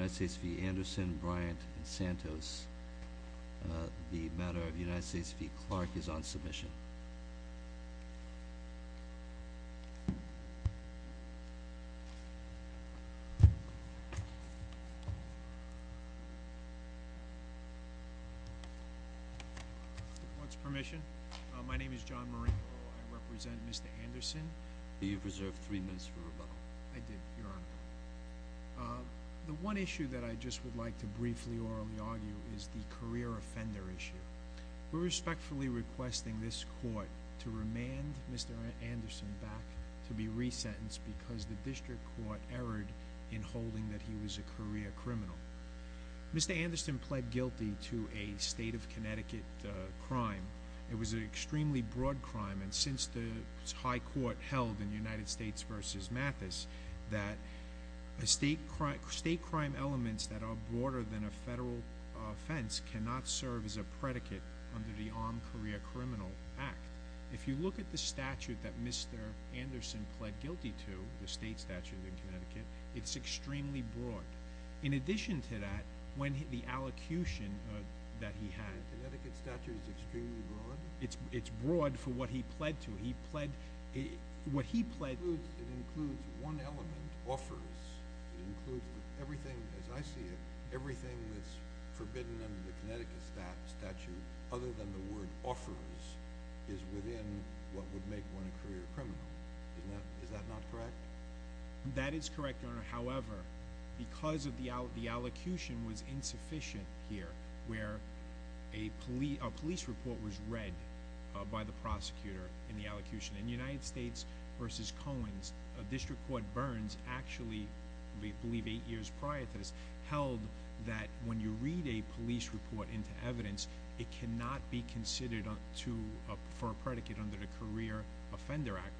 Anderson, Bryant, and Santos. The matter of the United States v. Clark is on submission. With the court's permission, my name is John Marino. I represent Mr. Anderson. You've reserved three minutes for rebuttal. I did, Your Honor. The one issue that I just would like to briefly, orally argue is the career offender issue. We're respectfully requesting this court to remand Mr. Anderson back to be resentenced because the district court erred in holding that he was a career criminal. Mr. Anderson pled guilty to a state of Connecticut crime. It was an extremely broad crime, and since the high court held in United States v. Mathis that state crime elements that are broader than a federal offense cannot serve as a predicate under the Armed Career Criminal Act. If you look at the statute that Mr. Anderson pled guilty to, the state statute in Connecticut, it's extremely broad. In addition to that, when the allocution that he had The Connecticut statute is extremely broad? It's broad for what he pled to. It includes one element, offers. It includes everything, as I see it, everything that's forbidden under the Connecticut statute other than the word offers is within what would make one a career criminal. That is correct, Your Honor. However, because the allocution was insufficient here, where a police report was read by the prosecutor in the allocution. In United States v. Cohen's, a district court, Burns, actually, I believe eight years prior to this, held that when you read a police report into evidence, it cannot be considered for a predicate under the Career Offender Act.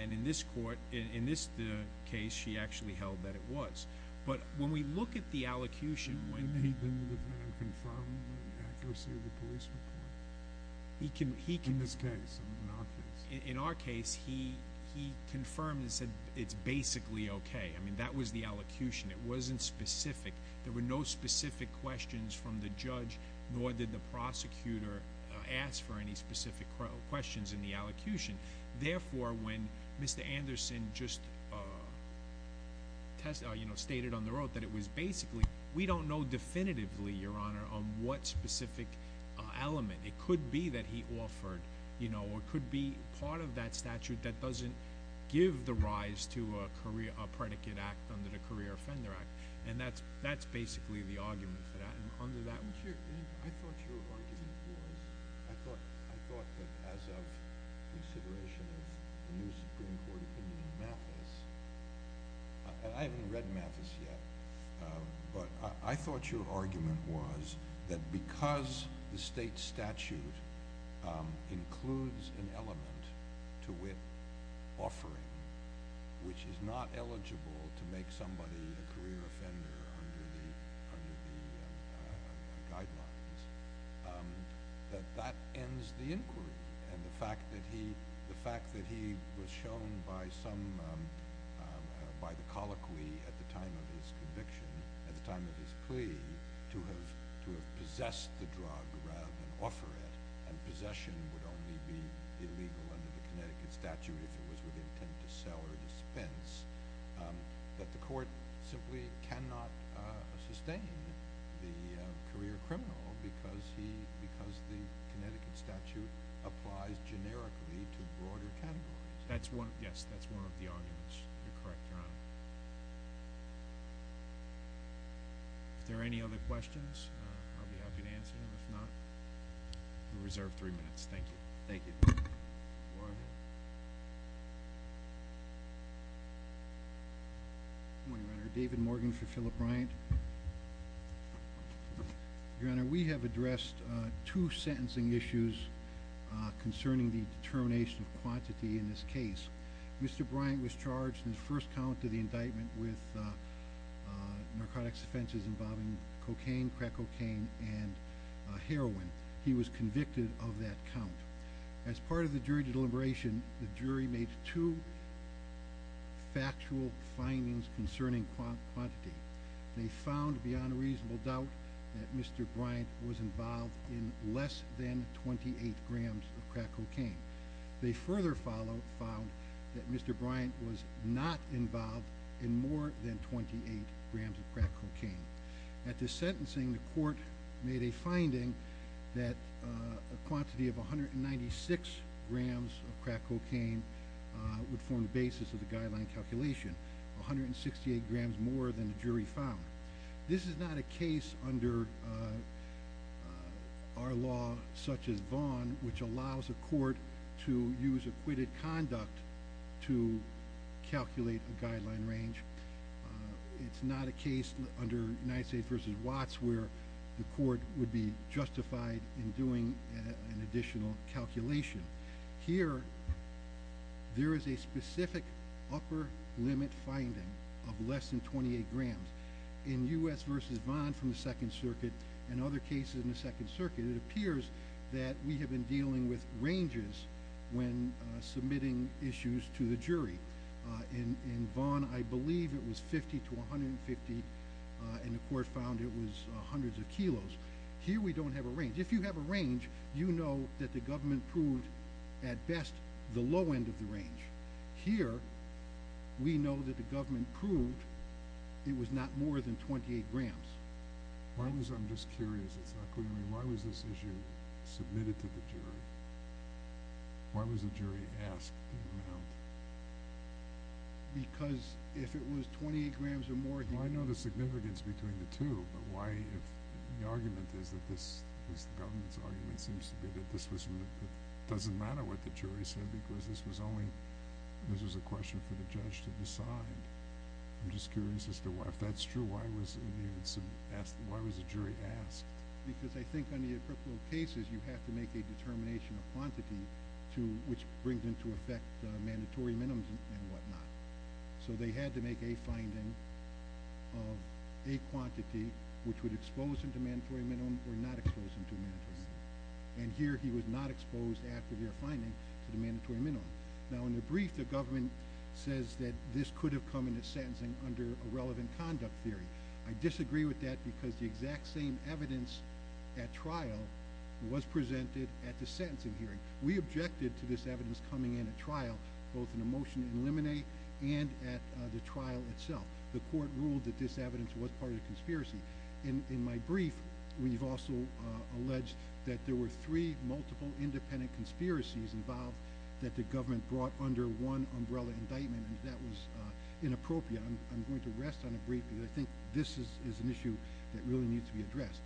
And in this court, in this case, she actually held that it was. But when we look at the allocution, You made them confirm the accuracy of the police report? In this case, in our case. In our case, he confirmed and said it's basically okay. I mean, that was the allocution. It wasn't specific. There were no specific questions from the judge, nor did the prosecutor ask for any specific questions in the allocution. Therefore, when Mr. Anderson just stated on the road that it was basically, we don't know definitively, Your Honor, on what specific element. It could be that he offered or it could be part of that statute that doesn't give the rise to a predicate act under the Career Offender Act. And that's basically the argument for that. I thought your argument was, I thought that as of consideration of the new Supreme Court opinion in Mathis, and I haven't read Mathis yet, but I thought your argument was that because the state statute includes an element to it offering, which is not eligible to make somebody a career offender under the guidelines, that that ends the inquiry. And the fact that he was shown by the colloquy at the time of his conviction, at the time of his plea, to have possessed the drug rather than offer it, and possession would only be illegal under the Connecticut statute if it was with intent to sell or dispense, that the court simply cannot sustain the career criminal because the Connecticut statute applies generically to broader categories. Yes, that's one of the arguments. You're correct, Your Honor. If there are any other questions, I'll be happy to answer them. We reserve three minutes. Thank you. Good morning, Your Honor. David Morgan for Philip Bryant. Your Honor, we have addressed two sentencing issues concerning the determination of quantity in this case. Mr. Bryant was charged in the first count of the indictment with narcotics offenses involving cocaine, crack cocaine, and heroin. He was convicted of that count. As part of the jury deliberation, the jury made two factual findings concerning quantity. They found, beyond a reasonable doubt, that Mr. Bryant was involved in less than 28 grams of crack cocaine. They further found that Mr. Bryant was not involved in more than 28 grams of crack cocaine. At the sentencing, the court made a finding that a quantity of 196 grams of crack cocaine would form the basis of the guideline calculation, 168 grams more than the jury found. This is not a case under our law, such as Vaughan, which allows a court to use acquitted conduct to calculate a guideline range. It's not a case under United States v. Watts where the court would be justified in doing an additional calculation. Here, there is a specific upper limit finding of less than 28 grams. In U.S. v. Vaughan from the Second Circuit and other cases in the Second Circuit, it appears that we have been dealing with ranges when submitting issues to the jury. In Vaughan, I believe it was 50 to 150, and the court found it was hundreds of kilos. Here, we don't have a range. If you have a range, you know that the government proved, at best, the low end of the range. Here, we know that the government proved it was not more than 28 grams. I'm just curious. It's not clear to me. Why was this issue submitted to the jury? Why was the jury asked the amount? Because if it was 28 grams or more... I know the significance between the two, but the argument is that this was the government's argument, seems to be that it doesn't matter what the jury said because this was a question for the judge to decide. I'm just curious as to why. If that's true, why was the jury asked? Because I think in the appropriate cases, you have to make a determination of quantity which brings into effect mandatory minimums and whatnot. So they had to make a finding of a quantity which would expose him to mandatory minimum or not expose him to a mandatory minimum. And here, he was not exposed, after their finding, to the mandatory minimum. Now, in the brief, the government says that this could have come from the sentencing under a relevant conduct theory. I disagree with that because the exact same evidence at trial was presented at the sentencing hearing. We objected to this evidence coming in at trial, both in the motion in Limine and at the trial itself. The court ruled that this evidence was part of the conspiracy. In my brief, we've also alleged that there were three multiple independent conspiracies involved that the government brought under one umbrella indictment, and that was inappropriate. I'm going to rest on a brief because I think this is an issue that really needs to be addressed.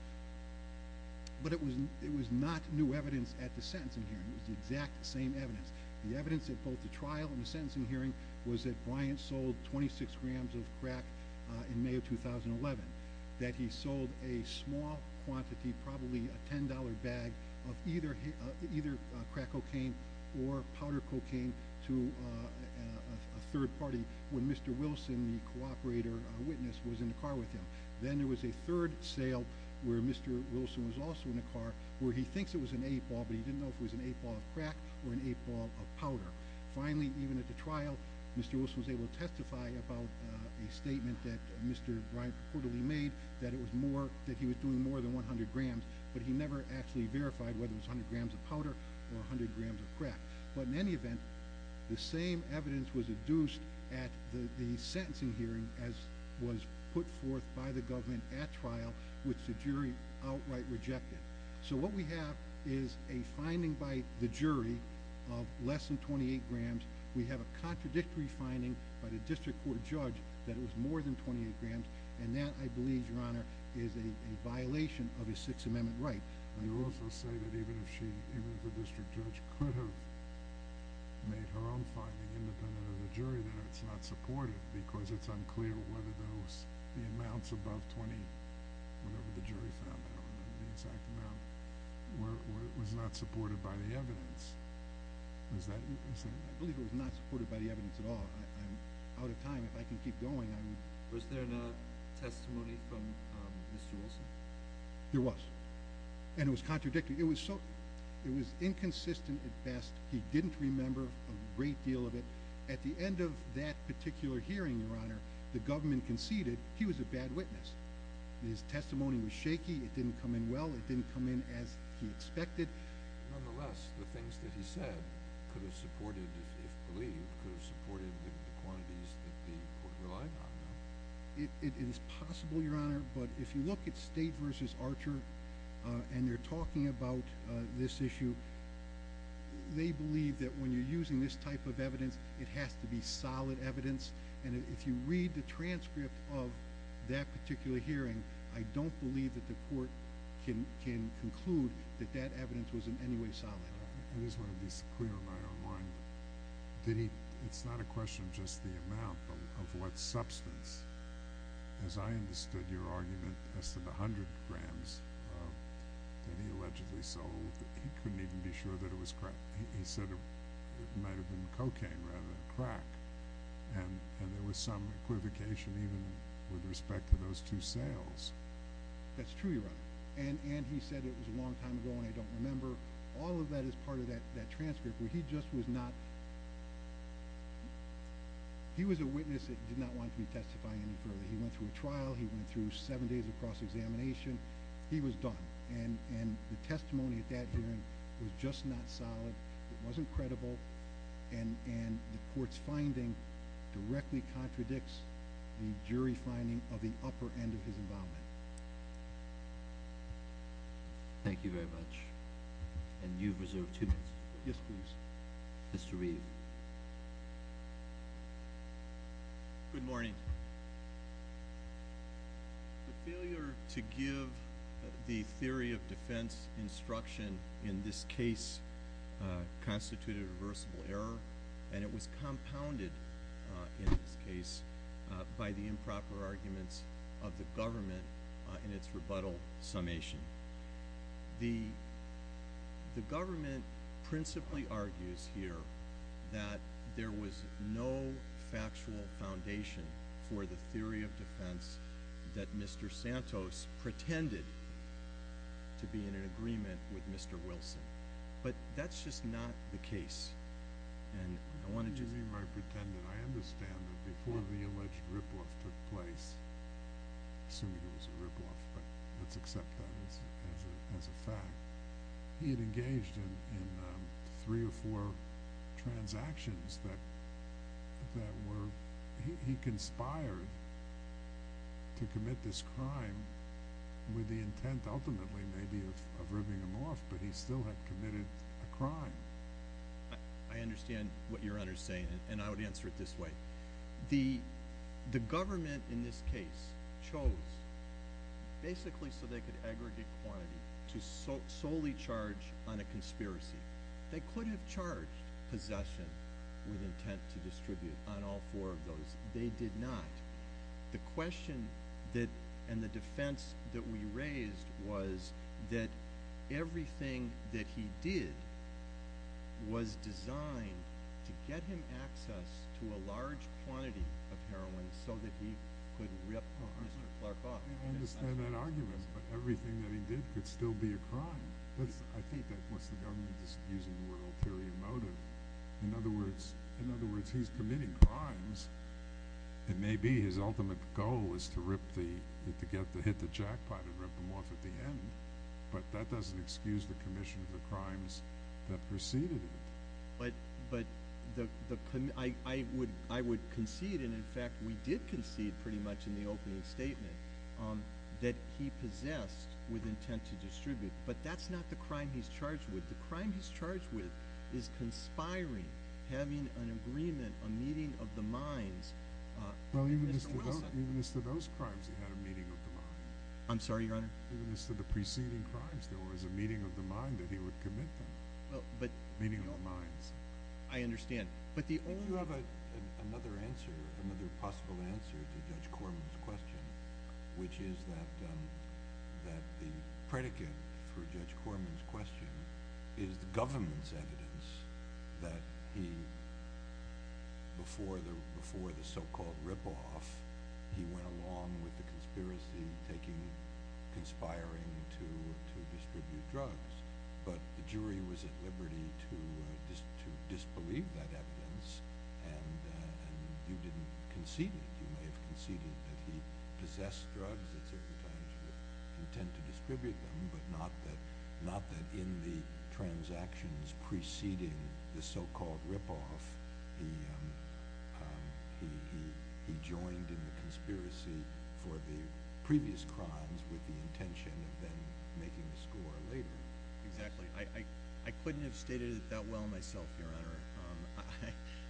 But it was not new evidence at the sentencing hearing. It was the exact same evidence. The evidence at both the trial and the sentencing hearing was that Bryant sold 26 grams of crack in May of 2011, that he sold a small quantity, probably a $10 bag, of either crack cocaine or powder cocaine to a third party when Mr. Wilson, the cooperator witness, was in the car with him. Then there was a third sale where Mr. Wilson was also in the car where he thinks it was an eight ball, but he didn't know if it was an eight ball of crack or an eight ball of powder. Finally, even at the trial, Mr. Wilson was able to testify about a statement that Mr. Bryant reportedly made that he was doing more than 100 grams, but he never actually verified whether it was 100 grams of powder or 100 grams of crack. But in any event, the same evidence was adduced at the sentencing hearing as was put forth by the government at trial, which the jury outright rejected. So what we have is a finding by the jury of less than 28 grams. We have a contradictory finding by the district court judge that it was more than 28 grams, and that, I believe, Your Honor, is a violation of a Sixth Amendment right. You also say that even if the district judge could have made her own finding independent of the jury, that it's not supported because it's unclear whether the amounts above 20, whatever the jury found out, the exact amount, was not supported by the evidence. I believe it was not supported by the evidence at all. I'm out of time. If I can keep going, I will. Was there not testimony from Mr. Wilson? There was, and it was contradictory. It was inconsistent at best. He didn't remember a great deal of it. At the end of that particular hearing, Your Honor, the government conceded he was a bad witness. His testimony was shaky. It didn't come in well. It didn't come in as he expected. Nonetheless, the things that he said could have supported, if believed, could have supported the quantities that the court relied on. It is possible, Your Honor, but if you look at State v. Archer and they're talking about this issue, they believe that when you're using this type of evidence, it has to be solid evidence, and if you read the transcript of that particular hearing, I don't believe that the court can conclude that that evidence was in any way solid. I just want to be clear in my own mind. It's not a question of just the amount, but of what substance. As I understood your argument as to the 100 grams that he allegedly sold, he couldn't even be sure that it was crack. He said it might have been cocaine rather than crack, and there was some equivocation even with respect to those two sales. That's true, Your Honor, and he said it was a long time ago and I don't remember. All of that is part of that transcript. He was a witness that did not want to be testified any further. He went through a trial. He went through seven days of cross-examination. He was done, and the testimony at that hearing was just not solid. It wasn't credible, and the court's finding directly contradicts the jury finding of the upper end of his involvement. Thank you. Thank you very much, and you've reserved two minutes. Yes, please. Mr. Reeve. Good morning. The failure to give the theory of defense instruction in this case constituted a reversible error, and it was compounded in this case by the improper arguments of the government in its rebuttal summation. The government principally argues here that there was no factual foundation for the theory of defense that Mr. Santos pretended to be in an agreement with Mr. Wilson, but that's just not the case. What do you mean by pretended? I understand that before the alleged ripoff took place, assuming it was a ripoff, but let's accept that as a fact, he had engaged in three or four transactions that were he conspired to commit this crime with the intent ultimately maybe of ribbing him off, but he still had committed a crime. I understand what your Honor is saying, and I would answer it this way. The government in this case chose basically so they could aggregate quantity to solely charge on a conspiracy. They could have charged possession with intent to distribute on all four of those. They did not. The question and the defense that we raised was that everything that he did was designed to get him access to a large quantity of heroin so that he could rip Mr. Clark off. I understand that argument, but everything that he did could still be a crime. I think that's what the government is using the word ulterior motive. In other words, he's committing crimes. It may be his ultimate goal is to hit the jackpot and rip him off at the end, but that doesn't excuse the commission of the crimes that preceded it. But I would concede, and in fact we did concede pretty much in the opening statement, that he possessed with intent to distribute, but that's not the crime he's charged with. The crime he's charged with is conspiring, having an agreement, a meeting of the minds. Well, even as to those crimes, he had a meeting of the minds. I'm sorry, Your Honor? Even as to the preceding crimes, there was a meeting of the mind that he would commit them. Meeting of the minds. I understand. If you have another answer, another possible answer to Judge Corman's question, which is that the predicate for Judge Corman's question is the government's evidence that before the so-called rip-off, he went along with the conspiracy, conspiring to distribute drugs. But the jury was at liberty to disbelieve that evidence, and you didn't concede it. You may have conceded that he possessed drugs at certain times with intent to distribute them, but not that in the transactions preceding the so-called rip-off, he joined in the conspiracy for the previous crimes with the intention of then making the score later. Exactly. I couldn't have stated it that well myself, Your Honor.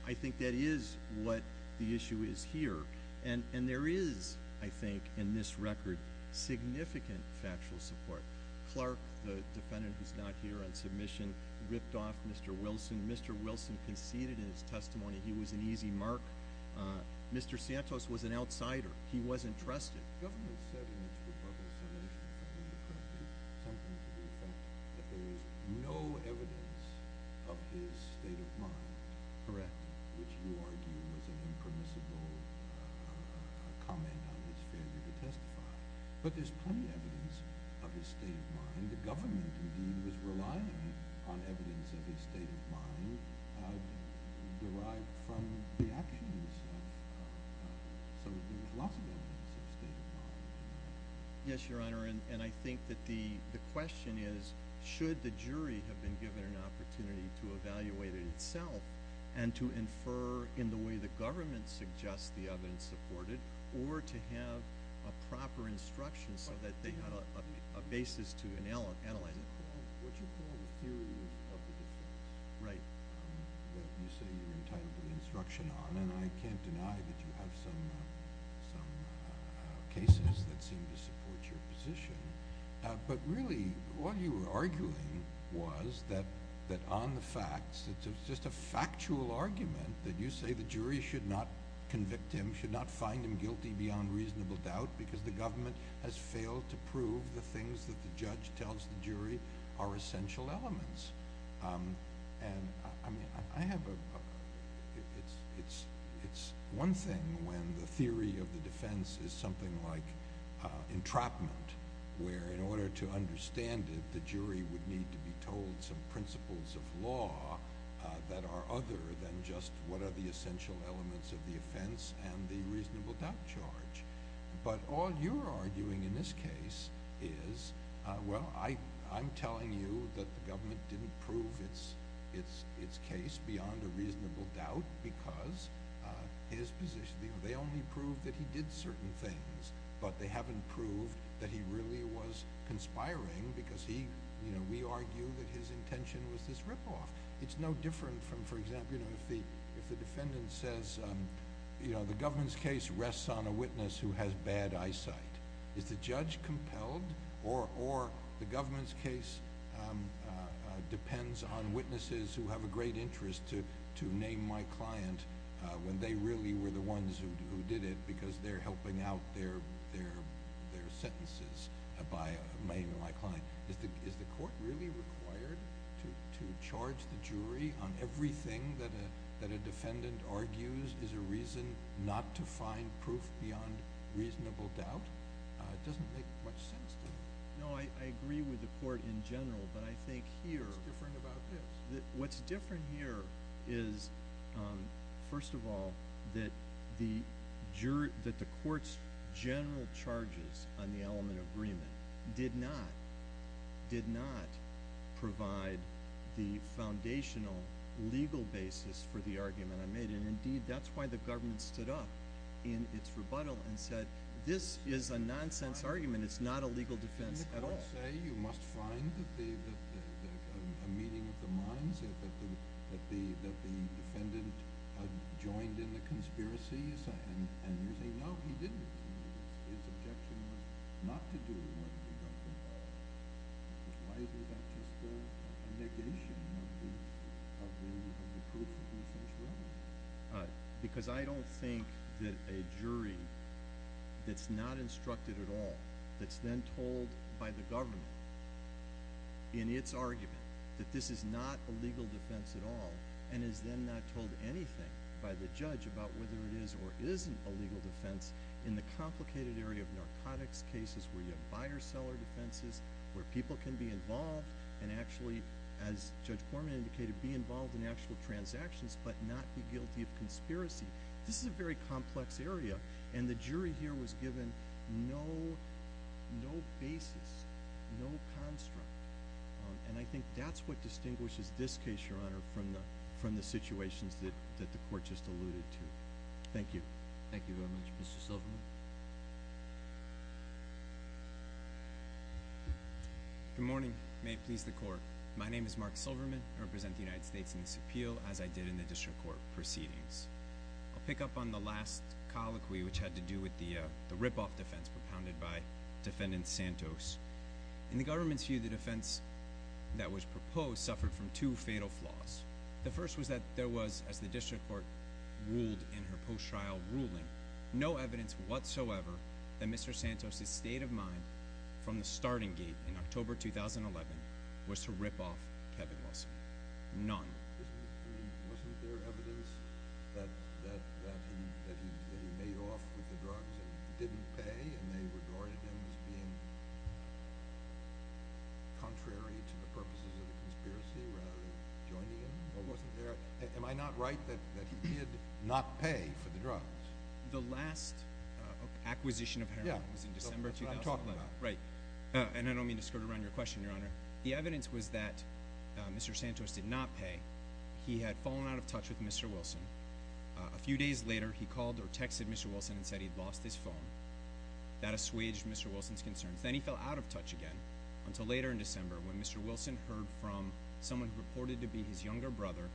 I think that is what the issue is here, and there is, I think, in this record, significant factual support. Clark, the defendant who's not here on submission, ripped off Mr. Wilson. Mr. Wilson conceded in his testimony he was an easy mark. Mr. Santos was an outsider. He wasn't trusted. The government said in its rebuttal submission something to the effect that there is no evidence of his state of mind. Correct. Which you argue was an impermissible comment on his failure to testify. But there's plenty of evidence of his state of mind. And the government, indeed, was relying on evidence of his state of mind derived from the actions of some of the philosophers of state of mind. Yes, Your Honor, and I think that the question is should the jury have been given an opportunity to evaluate it itself and to infer in the way the government suggests the evidence supported or to have a proper instruction so that they have a basis to analyze it. What you call the theory of the defense that you say you're entitled to instruction on, and I can't deny that you have some cases that seem to support your position, but really what you were arguing was that on the facts it's just a factual argument that you say the jury should not convict him, should not find him guilty beyond reasonable doubt because the government has failed to prove the things that the judge tells the jury are essential elements. It's one thing when the theory of the defense is something like entrapment where in order to understand it, the jury would need to be told some principles of law that are other than just what are the essential elements of the offense and the reasonable doubt charge. But all you're arguing in this case is, well, I'm telling you that the government didn't prove its case beyond a reasonable doubt because they only proved that he did certain things, but they haven't proved that he really was conspiring because we argue that his intention was this ripoff. It's no different from, for example, if the defendant says the government's case rests on a witness who has bad eyesight. Is the judge compelled or the government's case depends on witnesses who have a great interest to name my client when they really were the ones who did it on everything that a defendant argues is a reason not to find proof beyond reasonable doubt? It doesn't make much sense to me. No, I agree with the court in general, but I think here… What's different about this? What's different here is, first of all, that the court's general charges on the element of agreement did not provide the foundational legal basis for the argument I made. And, indeed, that's why the government stood up in its rebuttal and said this is a nonsense argument. It's not a legal defense at all. Did the court say you must find a meeting of the minds, that the defendant joined in the conspiracies? And you say, no, he didn't. His objection was not to do more than the government. Why is that just a negation of the proof of his instructions? Because I don't think that a jury that's not instructed at all, that's then told by the government in its argument that this is not a legal defense at all, and is then not told anything by the judge about whether it is or isn't a legal defense in the complicated area of narcotics cases where you have buyer-seller defenses, where people can be involved and actually, as Judge Corman indicated, be involved in actual transactions but not be guilty of conspiracy. This is a very complex area, and the jury here was given no basis, no construct. And I think that's what distinguishes this case, Your Honor, from the situations that the court just alluded to. Thank you. Thank you very much. Mr. Silverman? Good morning. May it please the Court. My name is Mark Silverman. I represent the United States in this appeal, as I did in the district court proceedings. I'll pick up on the last colloquy, which had to do with the ripoff defense propounded by Defendant Santos. In the government's view, the defense that was proposed suffered from two fatal flaws. The first was that there was, as the district court ruled in her post-trial ruling, no evidence whatsoever that Mr. Santos' state of mind from the starting gate in October 2011 was to rip off Kevin Wilson. None. Wasn't there evidence that he made off with the drugs and didn't pay, and they regarded him as being contrary to the purposes of the conspiracy rather than joining in? Or wasn't there? Am I not right that he did not pay for the drugs? The last acquisition of heroin was in December 2011. Yeah, that's what I'm talking about. Right. And I don't mean to skirt around your question, Your Honor. The evidence was that Mr. Santos did not pay. He had fallen out of touch with Mr. Wilson. A few days later, he called or texted Mr. Wilson and said he'd lost his phone. That assuaged Mr. Wilson's concerns. Then he fell out of touch again until later in December when Mr. Wilson heard from someone who reported to be his younger brother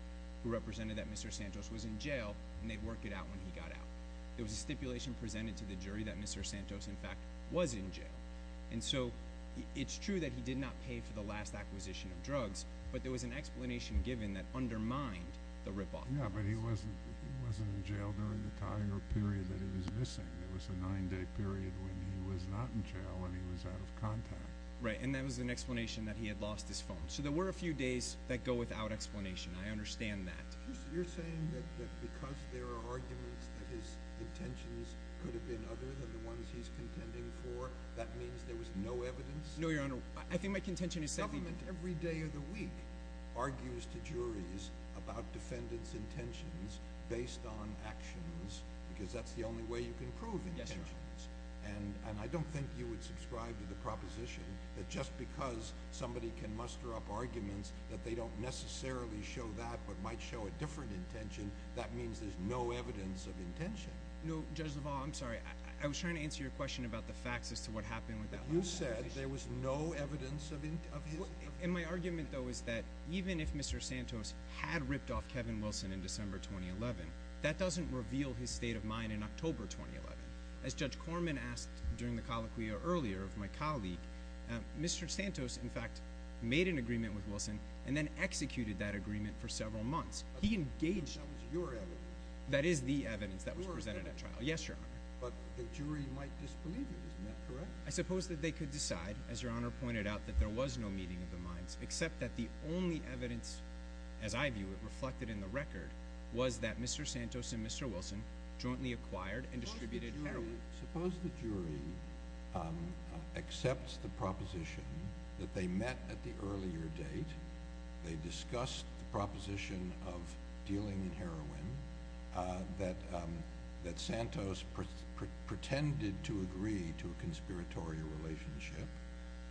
who represented that Mr. Santos was in jail, and they'd work it out when he got out. It was a stipulation presented to the jury that Mr. Santos, in fact, was in jail. And so it's true that he did not pay for the last acquisition of drugs, but there was an explanation given that undermined the ripoff. Yeah, but he wasn't in jail during the time or period that he was missing. It was a nine-day period when he was not in jail and he was out of contact. Right, and that was an explanation that he had lost his phone. So there were a few days that go without explanation. I understand that. You're saying that because there are arguments that his intentions could have been other than the ones he's contending for, that means there was no evidence? No, Your Honor. I think my contention is that the— Government every day of the week argues to juries about defendants' intentions based on actions, because that's the only way you can prove intentions. And I don't think you would subscribe to the proposition that just because somebody can muster up arguments that they don't necessarily show that but might show a different intention, that means there's no evidence of intention. No, Judge LaValle, I'm sorry. I was trying to answer your question about the facts as to what happened with that— You said there was no evidence of his— And my argument, though, is that even if Mr. Santos had ripped off Kevin Wilson in December 2011, that doesn't reveal his state of mind in October 2011. As Judge Corman asked during the colloquia earlier of my colleague, Mr. Santos, in fact, made an agreement with Wilson and then executed that agreement for several months. He engaged— That was your evidence. That is the evidence that was presented at trial. Yes, Your Honor. But the jury might disbelieve you. Isn't that correct? I suppose that they could decide, as Your Honor pointed out, that there was no meeting of the minds, except that the only evidence, as I view it, reflected in the record, was that Mr. Santos and Mr. Wilson jointly acquired and distributed heroin. Suppose the jury accepts the proposition that they met at the earlier date, they discussed the proposition of dealing in heroin, that Santos pretended to agree to a conspiratorial relationship,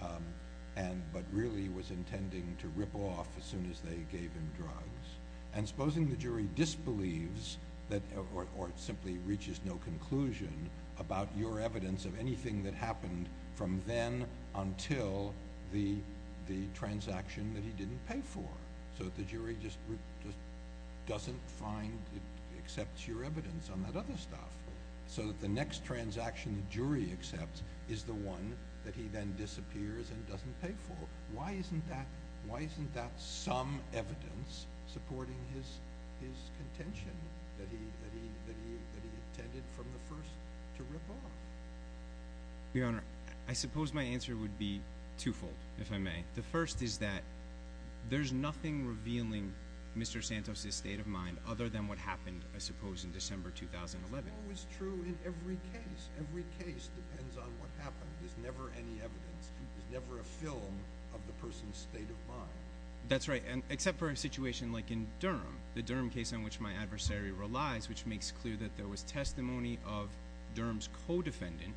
but really was intending to rip off as soon as they gave him drugs. And supposing the jury disbelieves or simply reaches no conclusion about your evidence of anything that happened from then until the transaction that he didn't pay for, so that the jury just doesn't find—accepts your evidence on that other stuff, so that the next transaction the jury accepts is the one that he then disappears and doesn't pay for. Why isn't that some evidence supporting his contention that he intended from the first to rip off? Your Honor, I suppose my answer would be twofold, if I may. The first is that there's nothing revealing Mr. Santos' state of mind other than what happened, I suppose, in December 2011. That's always true in every case. Every case depends on what happened. There's never any evidence. There's never a film of the person's state of mind. That's right, except for a situation like in Durham, the Durham case on which my adversary relies, which makes clear that there was testimony of Durham's co-defendant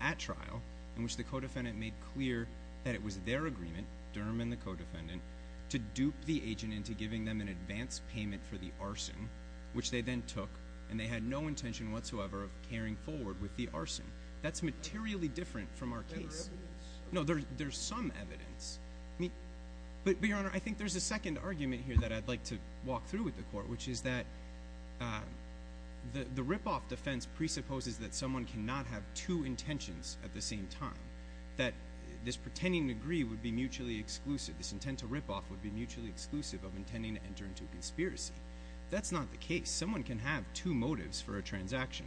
at trial, in which the co-defendant made clear that it was their agreement, Durham and the co-defendant, to dupe the agent into giving them an advance payment for the arson, which they then took, and they had no intention whatsoever of carrying forward with the arson. That's materially different from our case. But there's evidence. No, there's some evidence. But, Your Honor, I think there's a second argument here that I'd like to walk through with the Court, which is that the rip-off defense presupposes that someone cannot have two intentions at the same time, that this pretending to agree would be mutually exclusive, this intent to rip-off would be mutually exclusive of intending to enter into a conspiracy. That's not the case. Someone can have two motives for a transaction.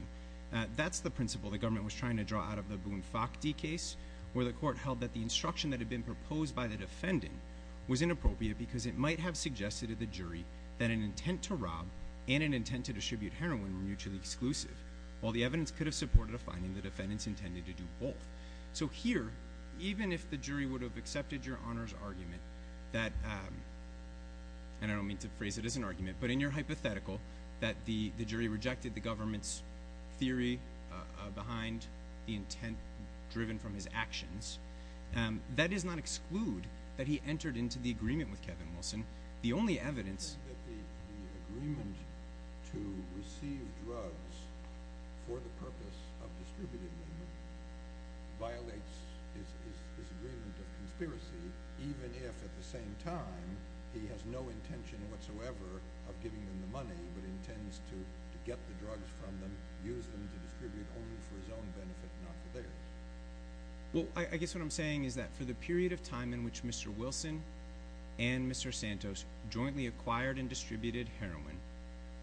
That's the principle the government was trying to draw out of the Boone-Fochte case, where the Court held that the instruction that had been proposed by the defendant was inappropriate because it might have suggested to the jury that an intent to rob and an intent to distribute heroin were mutually exclusive. While the evidence could have supported a finding, the defendants intended to do both. So here, even if the jury would have accepted Your Honor's argument that, and I don't mean to phrase it as an argument, but in your hypothetical that the jury rejected the government's theory behind the intent driven from his actions, that does not exclude that he entered into the agreement with Kevin Wilson. The only evidence… …that the agreement to receive drugs for the purpose of distributing them violates his agreement of conspiracy, even if, at the same time, he has no intention whatsoever of giving them the money, but intends to get the drugs from them, use them to distribute only for his own benefit, not for theirs. Well, I guess what I'm saying is that for the period of time in which Mr. Wilson and Mr. Santos jointly acquired and distributed heroin,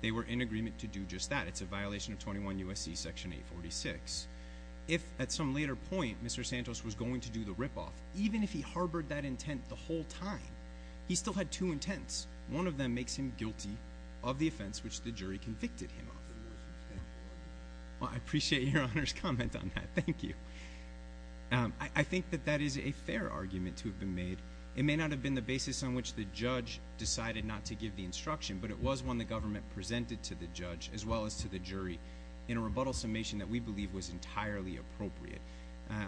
they were in agreement to do just that. It's a violation of 21 U.S.C. Section 846. If, at some later point, Mr. Santos was going to do the ripoff, even if he harbored that intent the whole time, he still had two intents. One of them makes him guilty of the offense which the jury convicted him of. Well, I appreciate Your Honor's comment on that. Thank you. I think that that is a fair argument to have been made. It may not have been the basis on which the judge decided not to give the instruction, but it was one the government presented to the judge as well as to the jury in a rebuttal summation that we believe was entirely appropriate.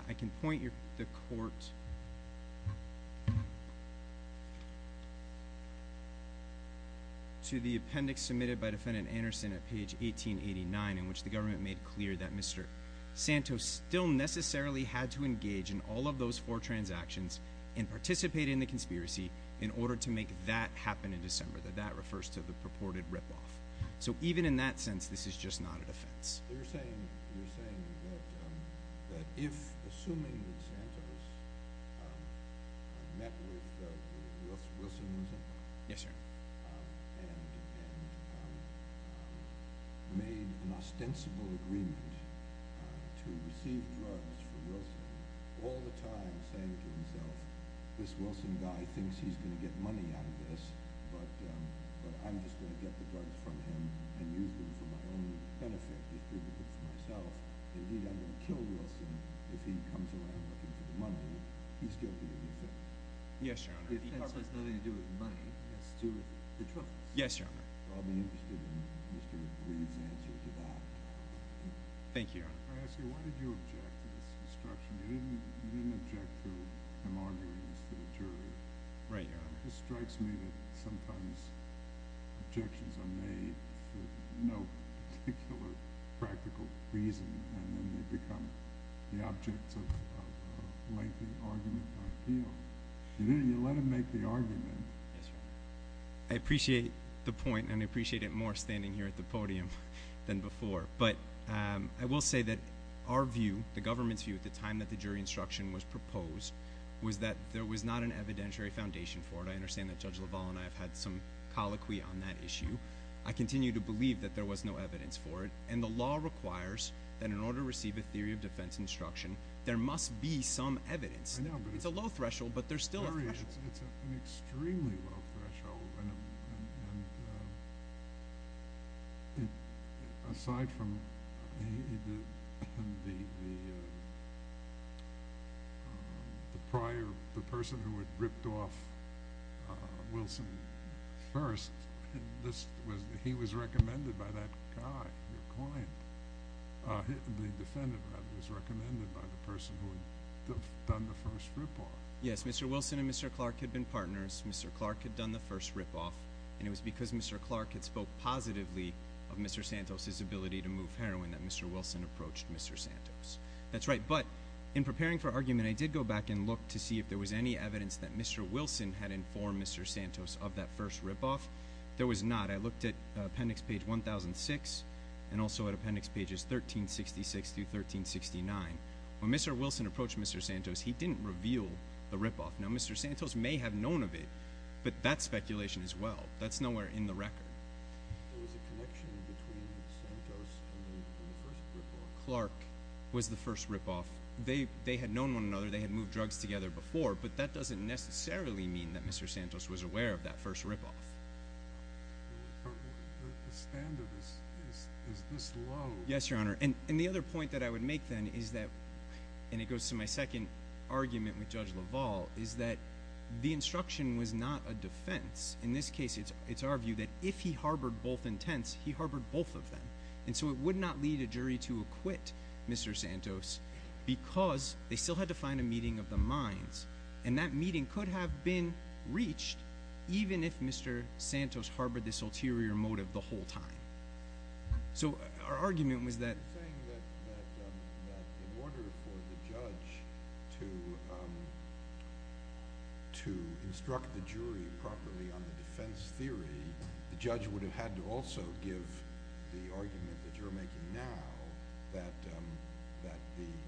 I can point the court to the appendix submitted by Defendant Anderson at page 1889 in which the government made clear that Mr. Santos still necessarily had to engage in all of those four transactions and participate in the conspiracy in order to make that happen in December, that that refers to the purported ripoff. So even in that sense, this is just not a defense. You're saying that if, assuming that Santos met with Wilson and made an ostensible agreement to receive drugs from Wilson, all the time saying to himself, this Wilson guy thinks he's going to get money out of this, but I'm just going to get the drugs from him and use them for my own benefit, distribute them for myself. Indeed, I'm going to kill Wilson if he comes around looking for the money. Would he still be in the offense? Yes, Your Honor. The offense has nothing to do with money. It has to do with the truth. Yes, Your Honor. I'll be interested in Mr. Reed's answer to that. Thank you, Your Honor. I ask you, why did you object to this instruction? You didn't object to him arguing this to the jury. Right, Your Honor. It strikes me that sometimes objections are made for no particular practical reason, and then they become the object of a lengthy argument by appeal. You let him make the argument. Yes, Your Honor. I appreciate the point, and I appreciate it more standing here at the podium than before. But I will say that our view, the government's view at the time that the jury instruction was proposed, was that there was not an evidentiary foundation for it. I understand that Judge LaValle and I have had some colloquy on that issue. I continue to believe that there was no evidence for it, and the law requires that in order to receive a theory of defense instruction, there must be some evidence. It's a low threshold, but there's still a threshold. It's an extremely low threshold. Aside from the person who had ripped off Wilson first, he was recommended by that guy, your client. The defendant, rather, was recommended by the person who had done the first rip-off. Yes, Mr. Wilson and Mr. Clark had been partners. Mr. Clark had done the first rip-off, and it was because Mr. Clark had spoke positively of Mr. Santos' ability to move heroin that Mr. Wilson approached Mr. Santos. That's right. But in preparing for argument, I did go back and look to see if there was any evidence that Mr. Wilson had informed Mr. Santos of that first rip-off. There was not. I looked at appendix page 1006 and also at appendix pages 1366 through 1369. When Mr. Wilson approached Mr. Santos, he didn't reveal the rip-off. Now, Mr. Santos may have known of it, but that's speculation as well. That's nowhere in the record. There was a connection between Santos and the first rip-off. Clark was the first rip-off. They had known one another. They had moved drugs together before, but that doesn't necessarily mean that Mr. Santos was aware of that first rip-off. The standard is this low. Yes, Your Honor. And the other point that I would make then is that, and it goes to my second argument with Judge LaValle, is that the instruction was not a defense. In this case, it's our view that if he harbored both intents, he harbored both of them. And so it would not lead a jury to acquit Mr. Santos because they still had to find a meeting of the minds. And that meeting could have been reached even if Mr. Santos harbored this ulterior motive the whole time. So our argument was that— You're saying that in order for the judge to instruct the jury properly on the defense theory, the judge would have had to also give the argument that you're making now, that the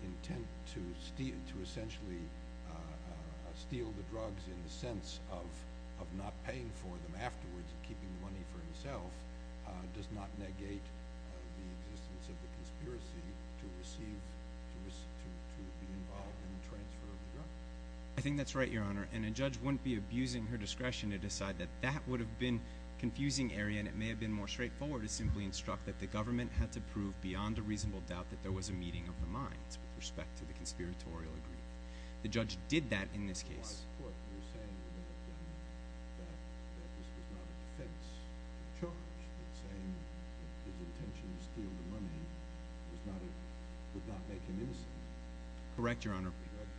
intent to essentially steal the drugs in the sense of not paying for them afterwards and keeping the money for himself does not negate the existence of the conspiracy to be involved in the transfer of the drugs? I think that's right, Your Honor. And a judge wouldn't be abusing her discretion to decide that that would have been a confusing area, and it may have been more straightforward to simply instruct that the government had to prove beyond a reasonable doubt that there was a meeting of the minds with respect to the conspiratorial agreement. The judge did that in this case. By court, you're saying that this was not a defense to the charge, but saying that his intention to steal the money would not make him innocent. Correct, Your Honor.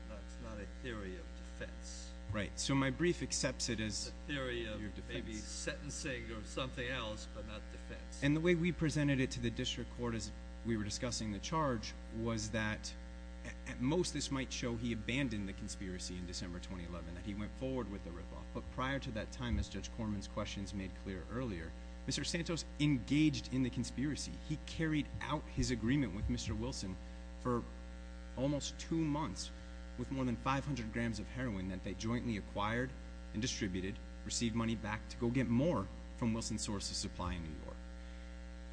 That's not a theory of defense. Right. So my brief accepts it as a theory of defense. A theory of maybe sentencing or something else, but not defense. And the way we presented it to the district court as we were discussing the charge was that at most this might show he abandoned the conspiracy in December 2011, that he went forward with the ripoff. But prior to that time, as Judge Corman's questions made clear earlier, Mr. Santos engaged in the conspiracy. He carried out his agreement with Mr. Wilson for almost two months with more than 500 grams of heroin that they jointly acquired and distributed, received money back to go get more from Wilson's source of supply in New York.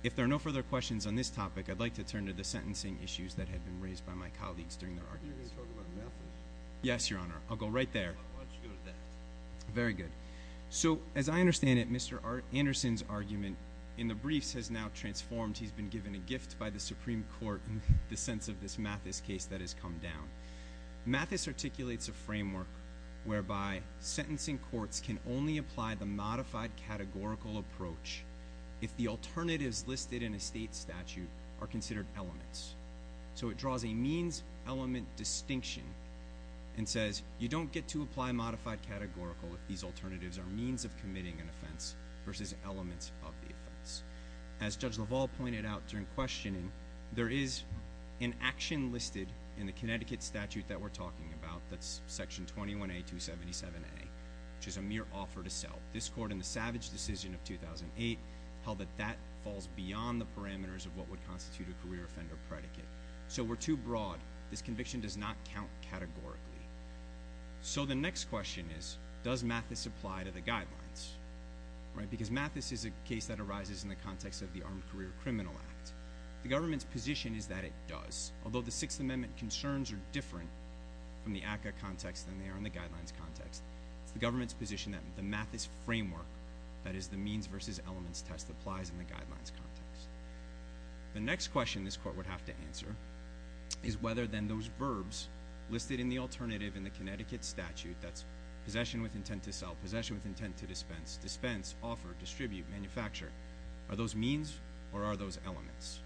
If there are no further questions on this topic, I'd like to turn to the sentencing issues that had been raised by my colleagues during their arguments. You're going to talk about Mathis. Yes, Your Honor. I'll go right there. Why don't you go to that? Very good. So as I understand it, Mr. Anderson's argument in the briefs has now transformed. He's been given a gift by the Supreme Court in the sense of this Mathis case that has come down. Mathis articulates a framework whereby sentencing courts can only apply the modified categorical approach if the alternatives listed in a state statute are considered elements. So it draws a means-element distinction and says you don't get to apply modified categorical if these alternatives are means of committing an offense versus elements of the offense. As Judge LaValle pointed out during questioning, there is an action listed in the Connecticut statute that we're talking about, that's Section 21A, 277A, which is a mere offer to sell. This court in the savage decision of 2008 held that that falls beyond the parameters of what would constitute a career offender predicate. So we're too broad. This conviction does not count categorically. So the next question is, does Mathis apply to the guidelines? Because Mathis is a case that arises in the context of the Armed Career Criminal Act. The government's position is that it does, although the Sixth Amendment concerns are different from the ACCA context than they are in the guidelines context. It's the government's position that the Mathis framework, that is the means versus elements test, applies in the guidelines context. The next question this court would have to answer is whether then those verbs listed in the alternative in the Connecticut statute, that's possession with intent to sell, possession with intent to dispense, dispense, offer, distribute, manufacture, are those means or are those elements?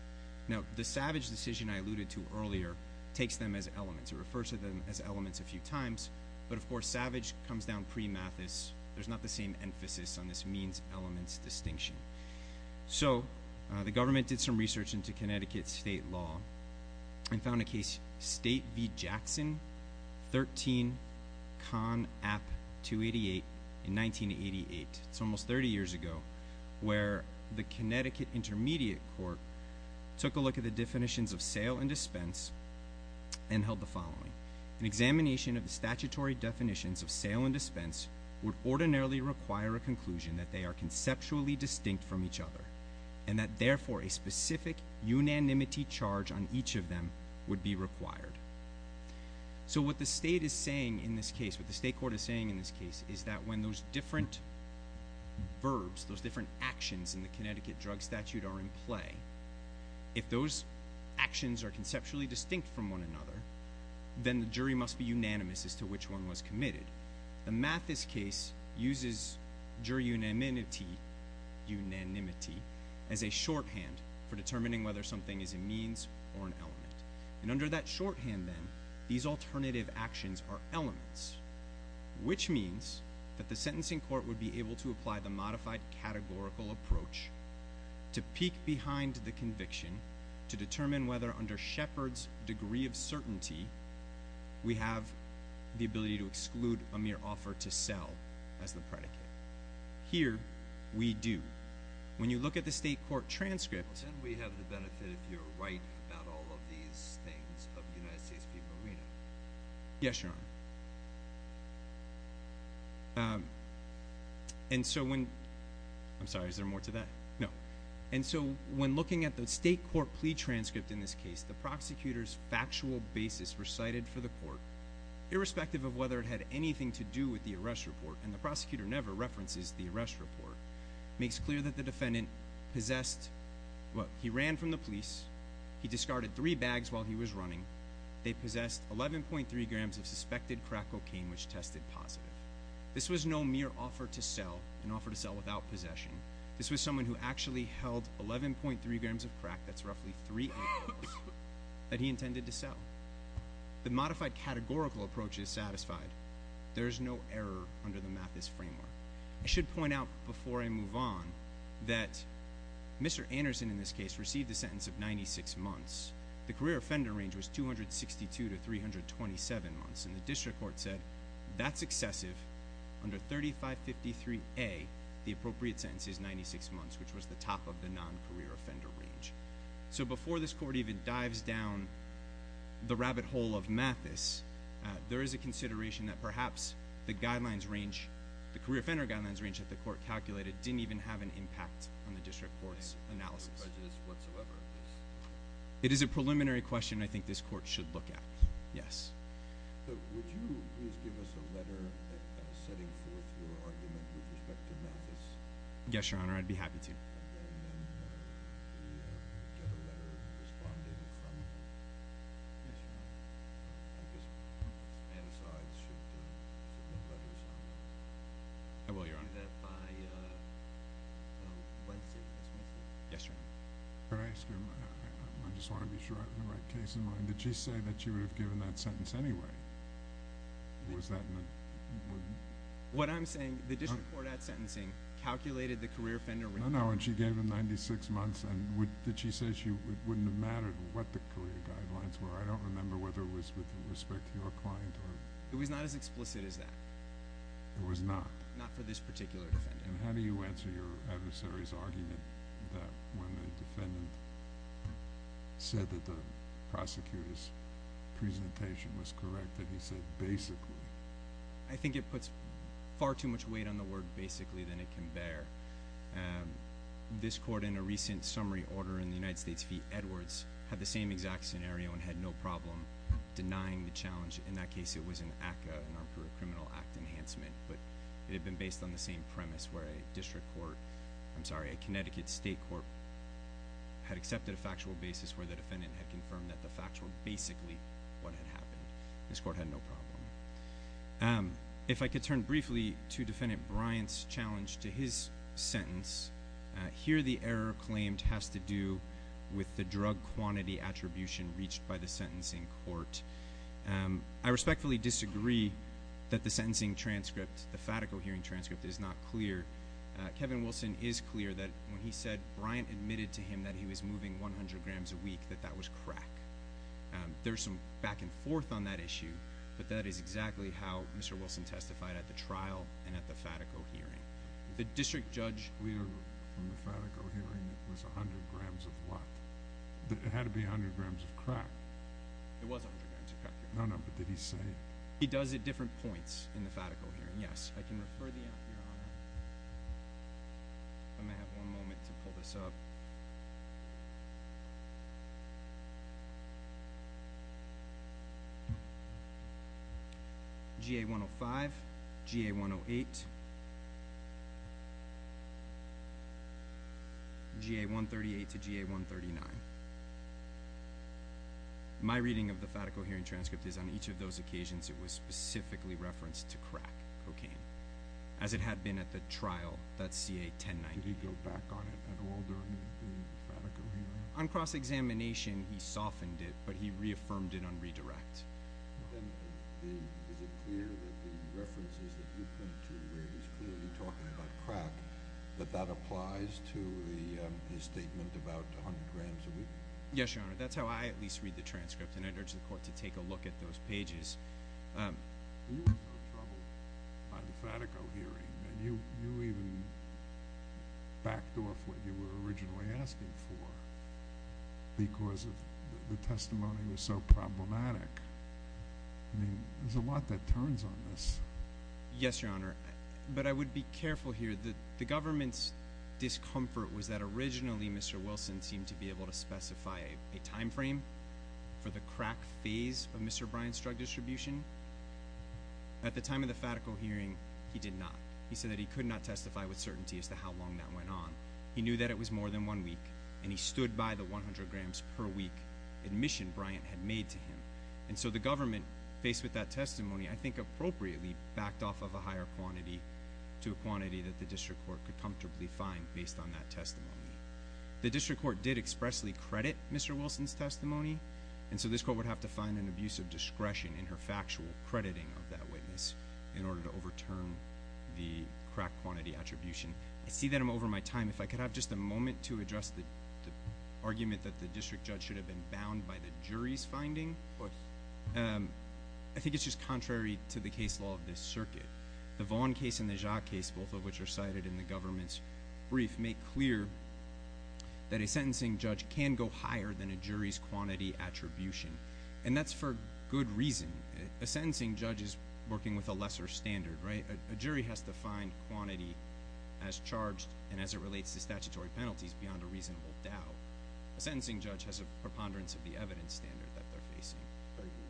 Now, the savage decision I alluded to earlier takes them as elements. It refers to them as elements a few times, but, of course, savage comes down pre-Mathis. There's not the same emphasis on this means-elements distinction. So the government did some research into Connecticut state law and found a case, State v. Jackson, 13 Con App 288 in 1988. It's almost 30 years ago where the Connecticut Intermediate Court took a look at the definitions of sale and dispense and held the following. An examination of the statutory definitions of sale and dispense would ordinarily require a conclusion that they are conceptually distinct from each other and that, therefore, a specific unanimity charge on each of them would be required. So what the state is saying in this case, what the state court is saying in this case, is that when those different verbs, those different actions in the Connecticut drug statute are in play, if those actions are conceptually distinct from one another, then the jury must be unanimous as to which one was committed. The Mathis case uses jury unanimity as a shorthand for determining whether something is a means or an element. And under that shorthand, then, these alternative actions are elements, which means that the sentencing court would be able to apply the modified categorical approach to peek behind the conviction to determine whether, under Shepard's degree of certainty, we have the ability to exclude a mere offer to sell as the predicate. Here, we do. When you look at the state court transcript... Then we have the benefit, if you're right about all of these things, of the United States people reading it. Yes, Your Honor. And so when... I'm sorry, is there more to that? No. And so when looking at the state court plea transcript in this case, the prosecutor's factual basis recited for the court, irrespective of whether it had anything to do with the arrest report, and the prosecutor never references the arrest report, makes clear that the defendant possessed... Well, he ran from the police, he discarded three bags while he was running, they possessed 11.3 grams of suspected crack cocaine, which tested positive. This was no mere offer to sell, an offer to sell without possession. This was someone who actually held 11.3 grams of crack, that's roughly three apples, that he intended to sell. The modified categorical approach is satisfied. There is no error under the Mathis framework. I should point out, before I move on, that Mr. Anderson, in this case, received a sentence of 96 months. The career offender range was 262 to 327 months, and the district court said that's excessive. Under 3553A, the appropriate sentence is 96 months, which was the top of the non-career offender range. So before this court even dives down the rabbit hole of Mathis, there is a consideration that perhaps the guidelines range, the career offender guidelines range that the court calculated didn't even have an impact on the district court's analysis. It is a preliminary question I think this court should look at. Yes. Yes, Your Honor, I'd be happy to. I will, Your Honor. Yes, Your Honor. Could I ask you, I just want to be sure I have the right case in mind, did she say that she would have given that sentence anyway? Or was that in the? What I'm saying, the district court, at sentencing, calculated the career offender range. No, no, and she gave him 96 months, and did she say it wouldn't have mattered what the career guidelines were? I don't remember whether it was with respect to your client. It was not as explicit as that. It was not? Not for this particular defendant. And how do you answer your adversary's argument that when the defendant said that the prosecutor's presentation was correct, that he said basically? I think it puts far too much weight on the word basically than it can bear. This court, in a recent summary order in the United States v. Edwards, had the same exact scenario and had no problem denying the challenge. In that case, it was an ACCA, an Armed Career Criminal Act enhancement. But it had been based on the same premise where a district court, I'm sorry, a Connecticut state court had accepted a factual basis where the defendant had confirmed that the facts were basically what had happened. This court had no problem. If I could turn briefly to Defendant Bryant's challenge to his sentence, here the error claimed has to do with the drug quantity attribution reached by the sentencing court. I respectfully disagree that the sentencing transcript, the fatico hearing transcript is not clear. Kevin Wilson is clear that when he said Bryant admitted to him that he was moving 100 grams a week, that that was crack. There's some back and forth on that issue, but that is exactly how Mr. Wilson testified at the trial and at the fatico hearing. The district judge? We are from the fatico hearing. It was 100 grams of what? It had to be 100 grams of crack. It was 100 grams of crack. No, no, but did he say? He does at different points in the fatico hearing, yes. I can refer the app here on it. I'm going to have one moment to pull this up. GA-105, GA-108. GA-138 to GA-139. My reading of the fatico hearing transcript is on each of those occasions it was specifically referenced to crack cocaine, as it had been at the trial, that's CA-109. Did he go back on it at all during the fatico hearing? On cross-examination, he softened it, but he reaffirmed it on redirect. Then is it clear that the references that you point to where he's clearly talking about crack, that that applies to his statement about 100 grams a week? Yes, Your Honor. That's how I at least read the transcript, and I'd urge the court to take a look at those pages. You were in trouble by the fatico hearing, and you even backed off what you were originally asking for because the testimony was so problematic. I mean, there's a lot that turns on this. Yes, Your Honor, but I would be careful here. The government's discomfort was that originally Mr. Wilson seemed to be able to specify a time frame for the crack phase of Mr. Bryant's drug distribution. At the time of the fatico hearing, he did not. He said that he could not testify with certainty as to how long that went on. He knew that it was more than one week, and he stood by the 100 grams per week admission Bryant had made to him. And so the government, faced with that testimony, I think appropriately backed off of a higher quantity to a quantity that the district court could comfortably find based on that testimony. The district court did expressly credit Mr. Wilson's testimony, and so this court would have to find an abuse of discretion in her factual crediting of that witness in order to overturn the crack quantity attribution. I see that I'm over my time. If I could have just a moment to address the argument that the district judge should have been bound by the jury's finding. Of course. I think it's just contrary to the case law of this circuit. The Vaughn case and the Jacques case, both of which are cited in the government's brief, make clear that a sentencing judge can go higher than a jury's quantity attribution, and that's for good reason. A sentencing judge is working with a lesser standard, right? A jury has to find quantity as charged and as it relates to statutory penalties beyond a reasonable doubt. A sentencing judge has a preponderance of the evidence standard that they're facing.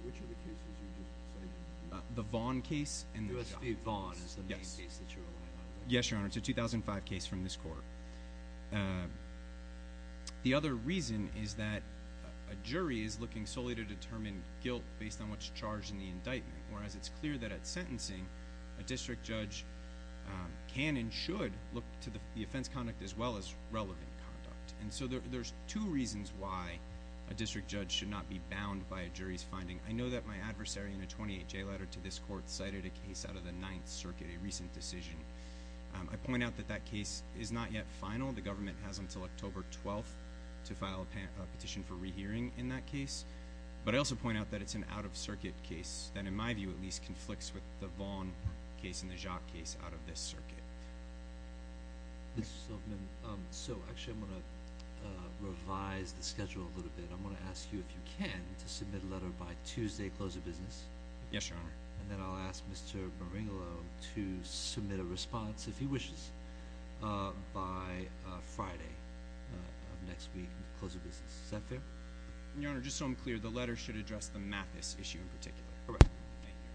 Which of the cases are you just citing? The Vaughn case and the Jacques case. Jacques v. Vaughn is the main case that you're alluding to. Yes, Your Honor. It's a 2005 case from this court. The other reason is that a jury is looking solely to determine guilt based on what's charged in the indictment, whereas it's clear that at sentencing, a district judge can and should look to the offense conduct as well as relevant conduct. And so there's two reasons why a district judge should not be bound by a jury's finding. I know that my adversary in a 28-J letter to this court cited a case out of the Ninth Circuit, a recent decision. I point out that that case is not yet final. The government has until October 12th to file a petition for rehearing in that case. But I also point out that it's an out-of-circuit case that in my view at least conflicts with the Vaughn case and the Jacques case out of this circuit. Mr. Silverman, so actually I'm going to revise the schedule a little bit. I'm going to ask you, if you can, to submit a letter by Tuesday, close of business. Yes, Your Honor. And then I'll ask Mr. Maringolo to submit a response, if he wishes, by Friday of next week, close of business. Is that fair? Your Honor, just so I'm clear, the letter should address the Mathis issue in particular. Correct. Thank you.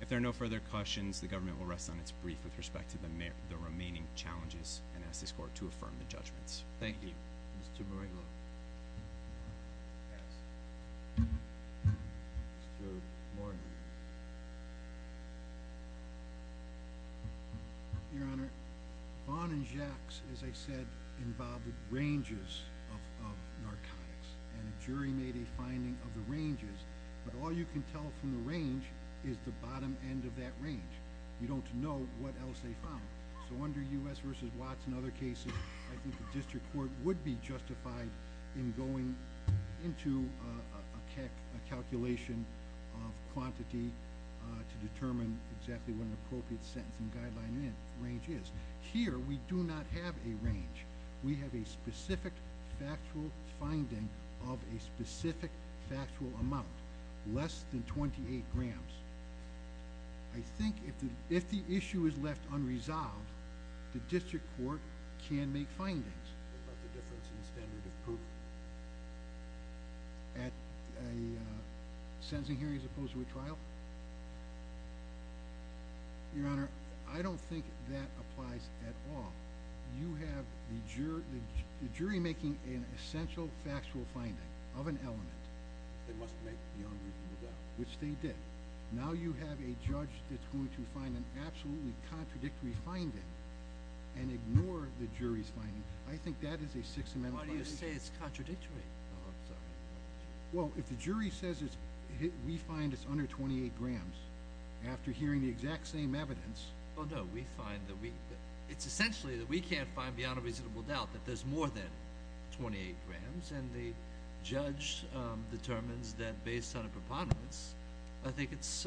If there are no further questions, the government will rest on its brief with respect to the remaining challenges and ask this court to affirm the judgments. Thank you. Thank you. Mr. Maringolo. Pass. Mr. Maringolo. Your Honor, Vaughn and Jacques, as I said, involved ranges of narcotics. And a jury made a finding of the ranges. But all you can tell from the range is the bottom end of that range. You don't know what else they found. So under U.S. v. Watts and other cases, I think the district court would be justified in going into a calculation of quantity to determine exactly what an appropriate sentence and guideline range is. Here we do not have a range. We have a specific factual finding of a specific factual amount, less than 28 grams. I think if the issue is left unresolved, the district court can make findings. What about the difference in standard of proof? At a sentencing hearing as opposed to a trial? Your Honor, I don't think that applies at all. You have the jury making an essential factual finding of an element. They must make the unreasonable doubt. Which they did. Now you have a judge that's going to find an absolutely contradictory finding and ignore the jury's finding. I think that is a Sixth Amendment violation. Why do you say it's contradictory? Oh, I'm sorry. Well, if the jury says we find it's under 28 grams, after hearing the exact same evidence. Oh, no. We find that we – it's essentially that we can't find beyond a reasonable doubt that there's more than 28 grams. And the judge determines that based on a preponderance, I think it's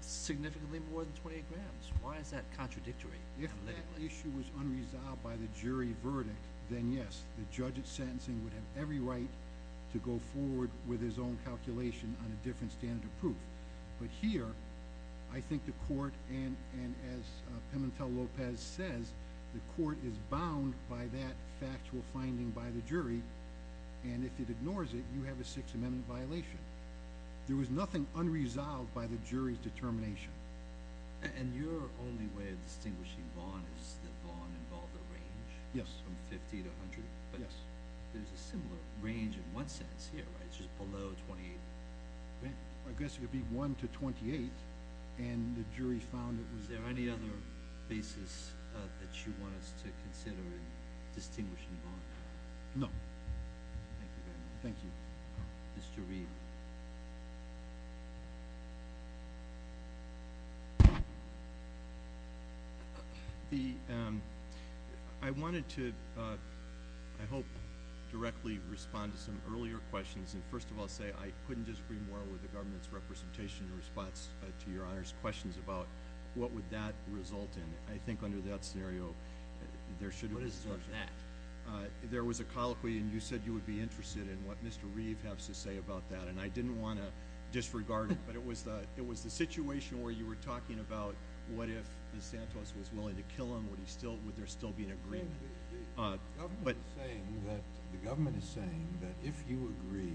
significantly more than 28 grams. Why is that contradictory? If that issue was unresolved by the jury verdict, then yes. The judge at sentencing would have every right to go forward with his own calculation on a different standard of proof. But here, I think the court, and as Pimentel-Lopez says, the court is bound by that factual finding by the jury. And if it ignores it, you have a Sixth Amendment violation. There was nothing unresolved by the jury's determination. And your only way of distinguishing Vaughn is that Vaughn involved a range? Yes. From 50 to 100? Yes. But there's a similar range in one sense here, right? It's just below 28. I guess it would be 1 to 28, and the jury found it was – Is there any other basis that you want us to consider in distinguishing Vaughn? No. Thank you very much. Thank you. Mr. Reed. I wanted to, I hope, directly respond to some earlier questions. And first of all, say I couldn't disagree more with the government's representation in response to Your Honor's questions about what would that result in. I think under that scenario, there should be – What is that? There was a colloquy, and you said you would be interested in what Mr. Reed has to say about that. And I didn't want to disregard it, but it was the situation where you were talking about what if Ms. Santos was willing to kill him? Would there still be an agreement? The government is saying that if you agree,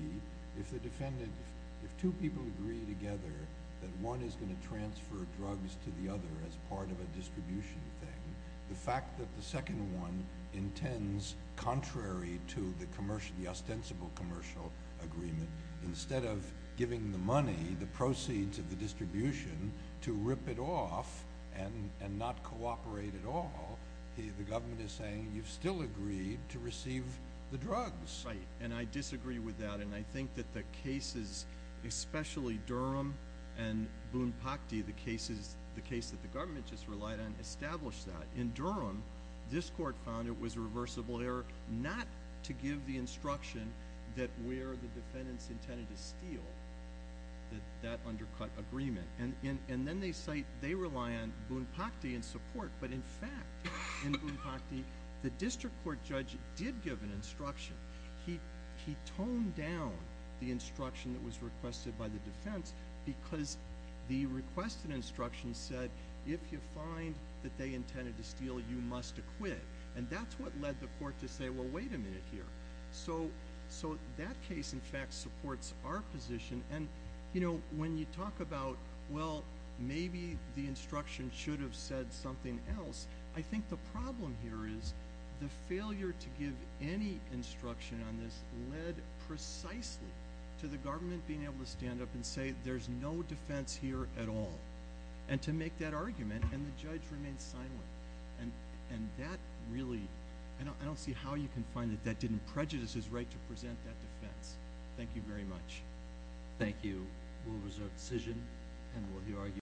if two people agree together that one is going to transfer drugs to the other as part of a distribution thing, the fact that the second one intends, contrary to the ostensible commercial agreement, instead of giving the money, the proceeds of the distribution, to rip it off and not cooperate at all, the government is saying you've still agreed to receive the drugs. Right. And I disagree with that, and I think that the cases, especially Durham and this court found it was a reversible error not to give the instruction that where the defendants intended to steal, that that undercut agreement. And then they say they rely on Boone-Pakde in support, but in fact, in Boone-Pakde, the district court judge did give an instruction. He toned down the instruction that was requested by the defense because the defendant intended to steal, you must acquit. And that's what led the court to say, well, wait a minute here. So that case, in fact, supports our position. And, you know, when you talk about, well, maybe the instruction should have said something else, I think the problem here is the failure to give any instruction on this led precisely to the government being able to stand up and say there's no defense here at all and to make that argument, and the judge remained silent. And that really – I don't see how you can find that that didn't prejudice his right to present that defense. Thank you very much. Thank you. We'll reserve decision and we'll hear arguments.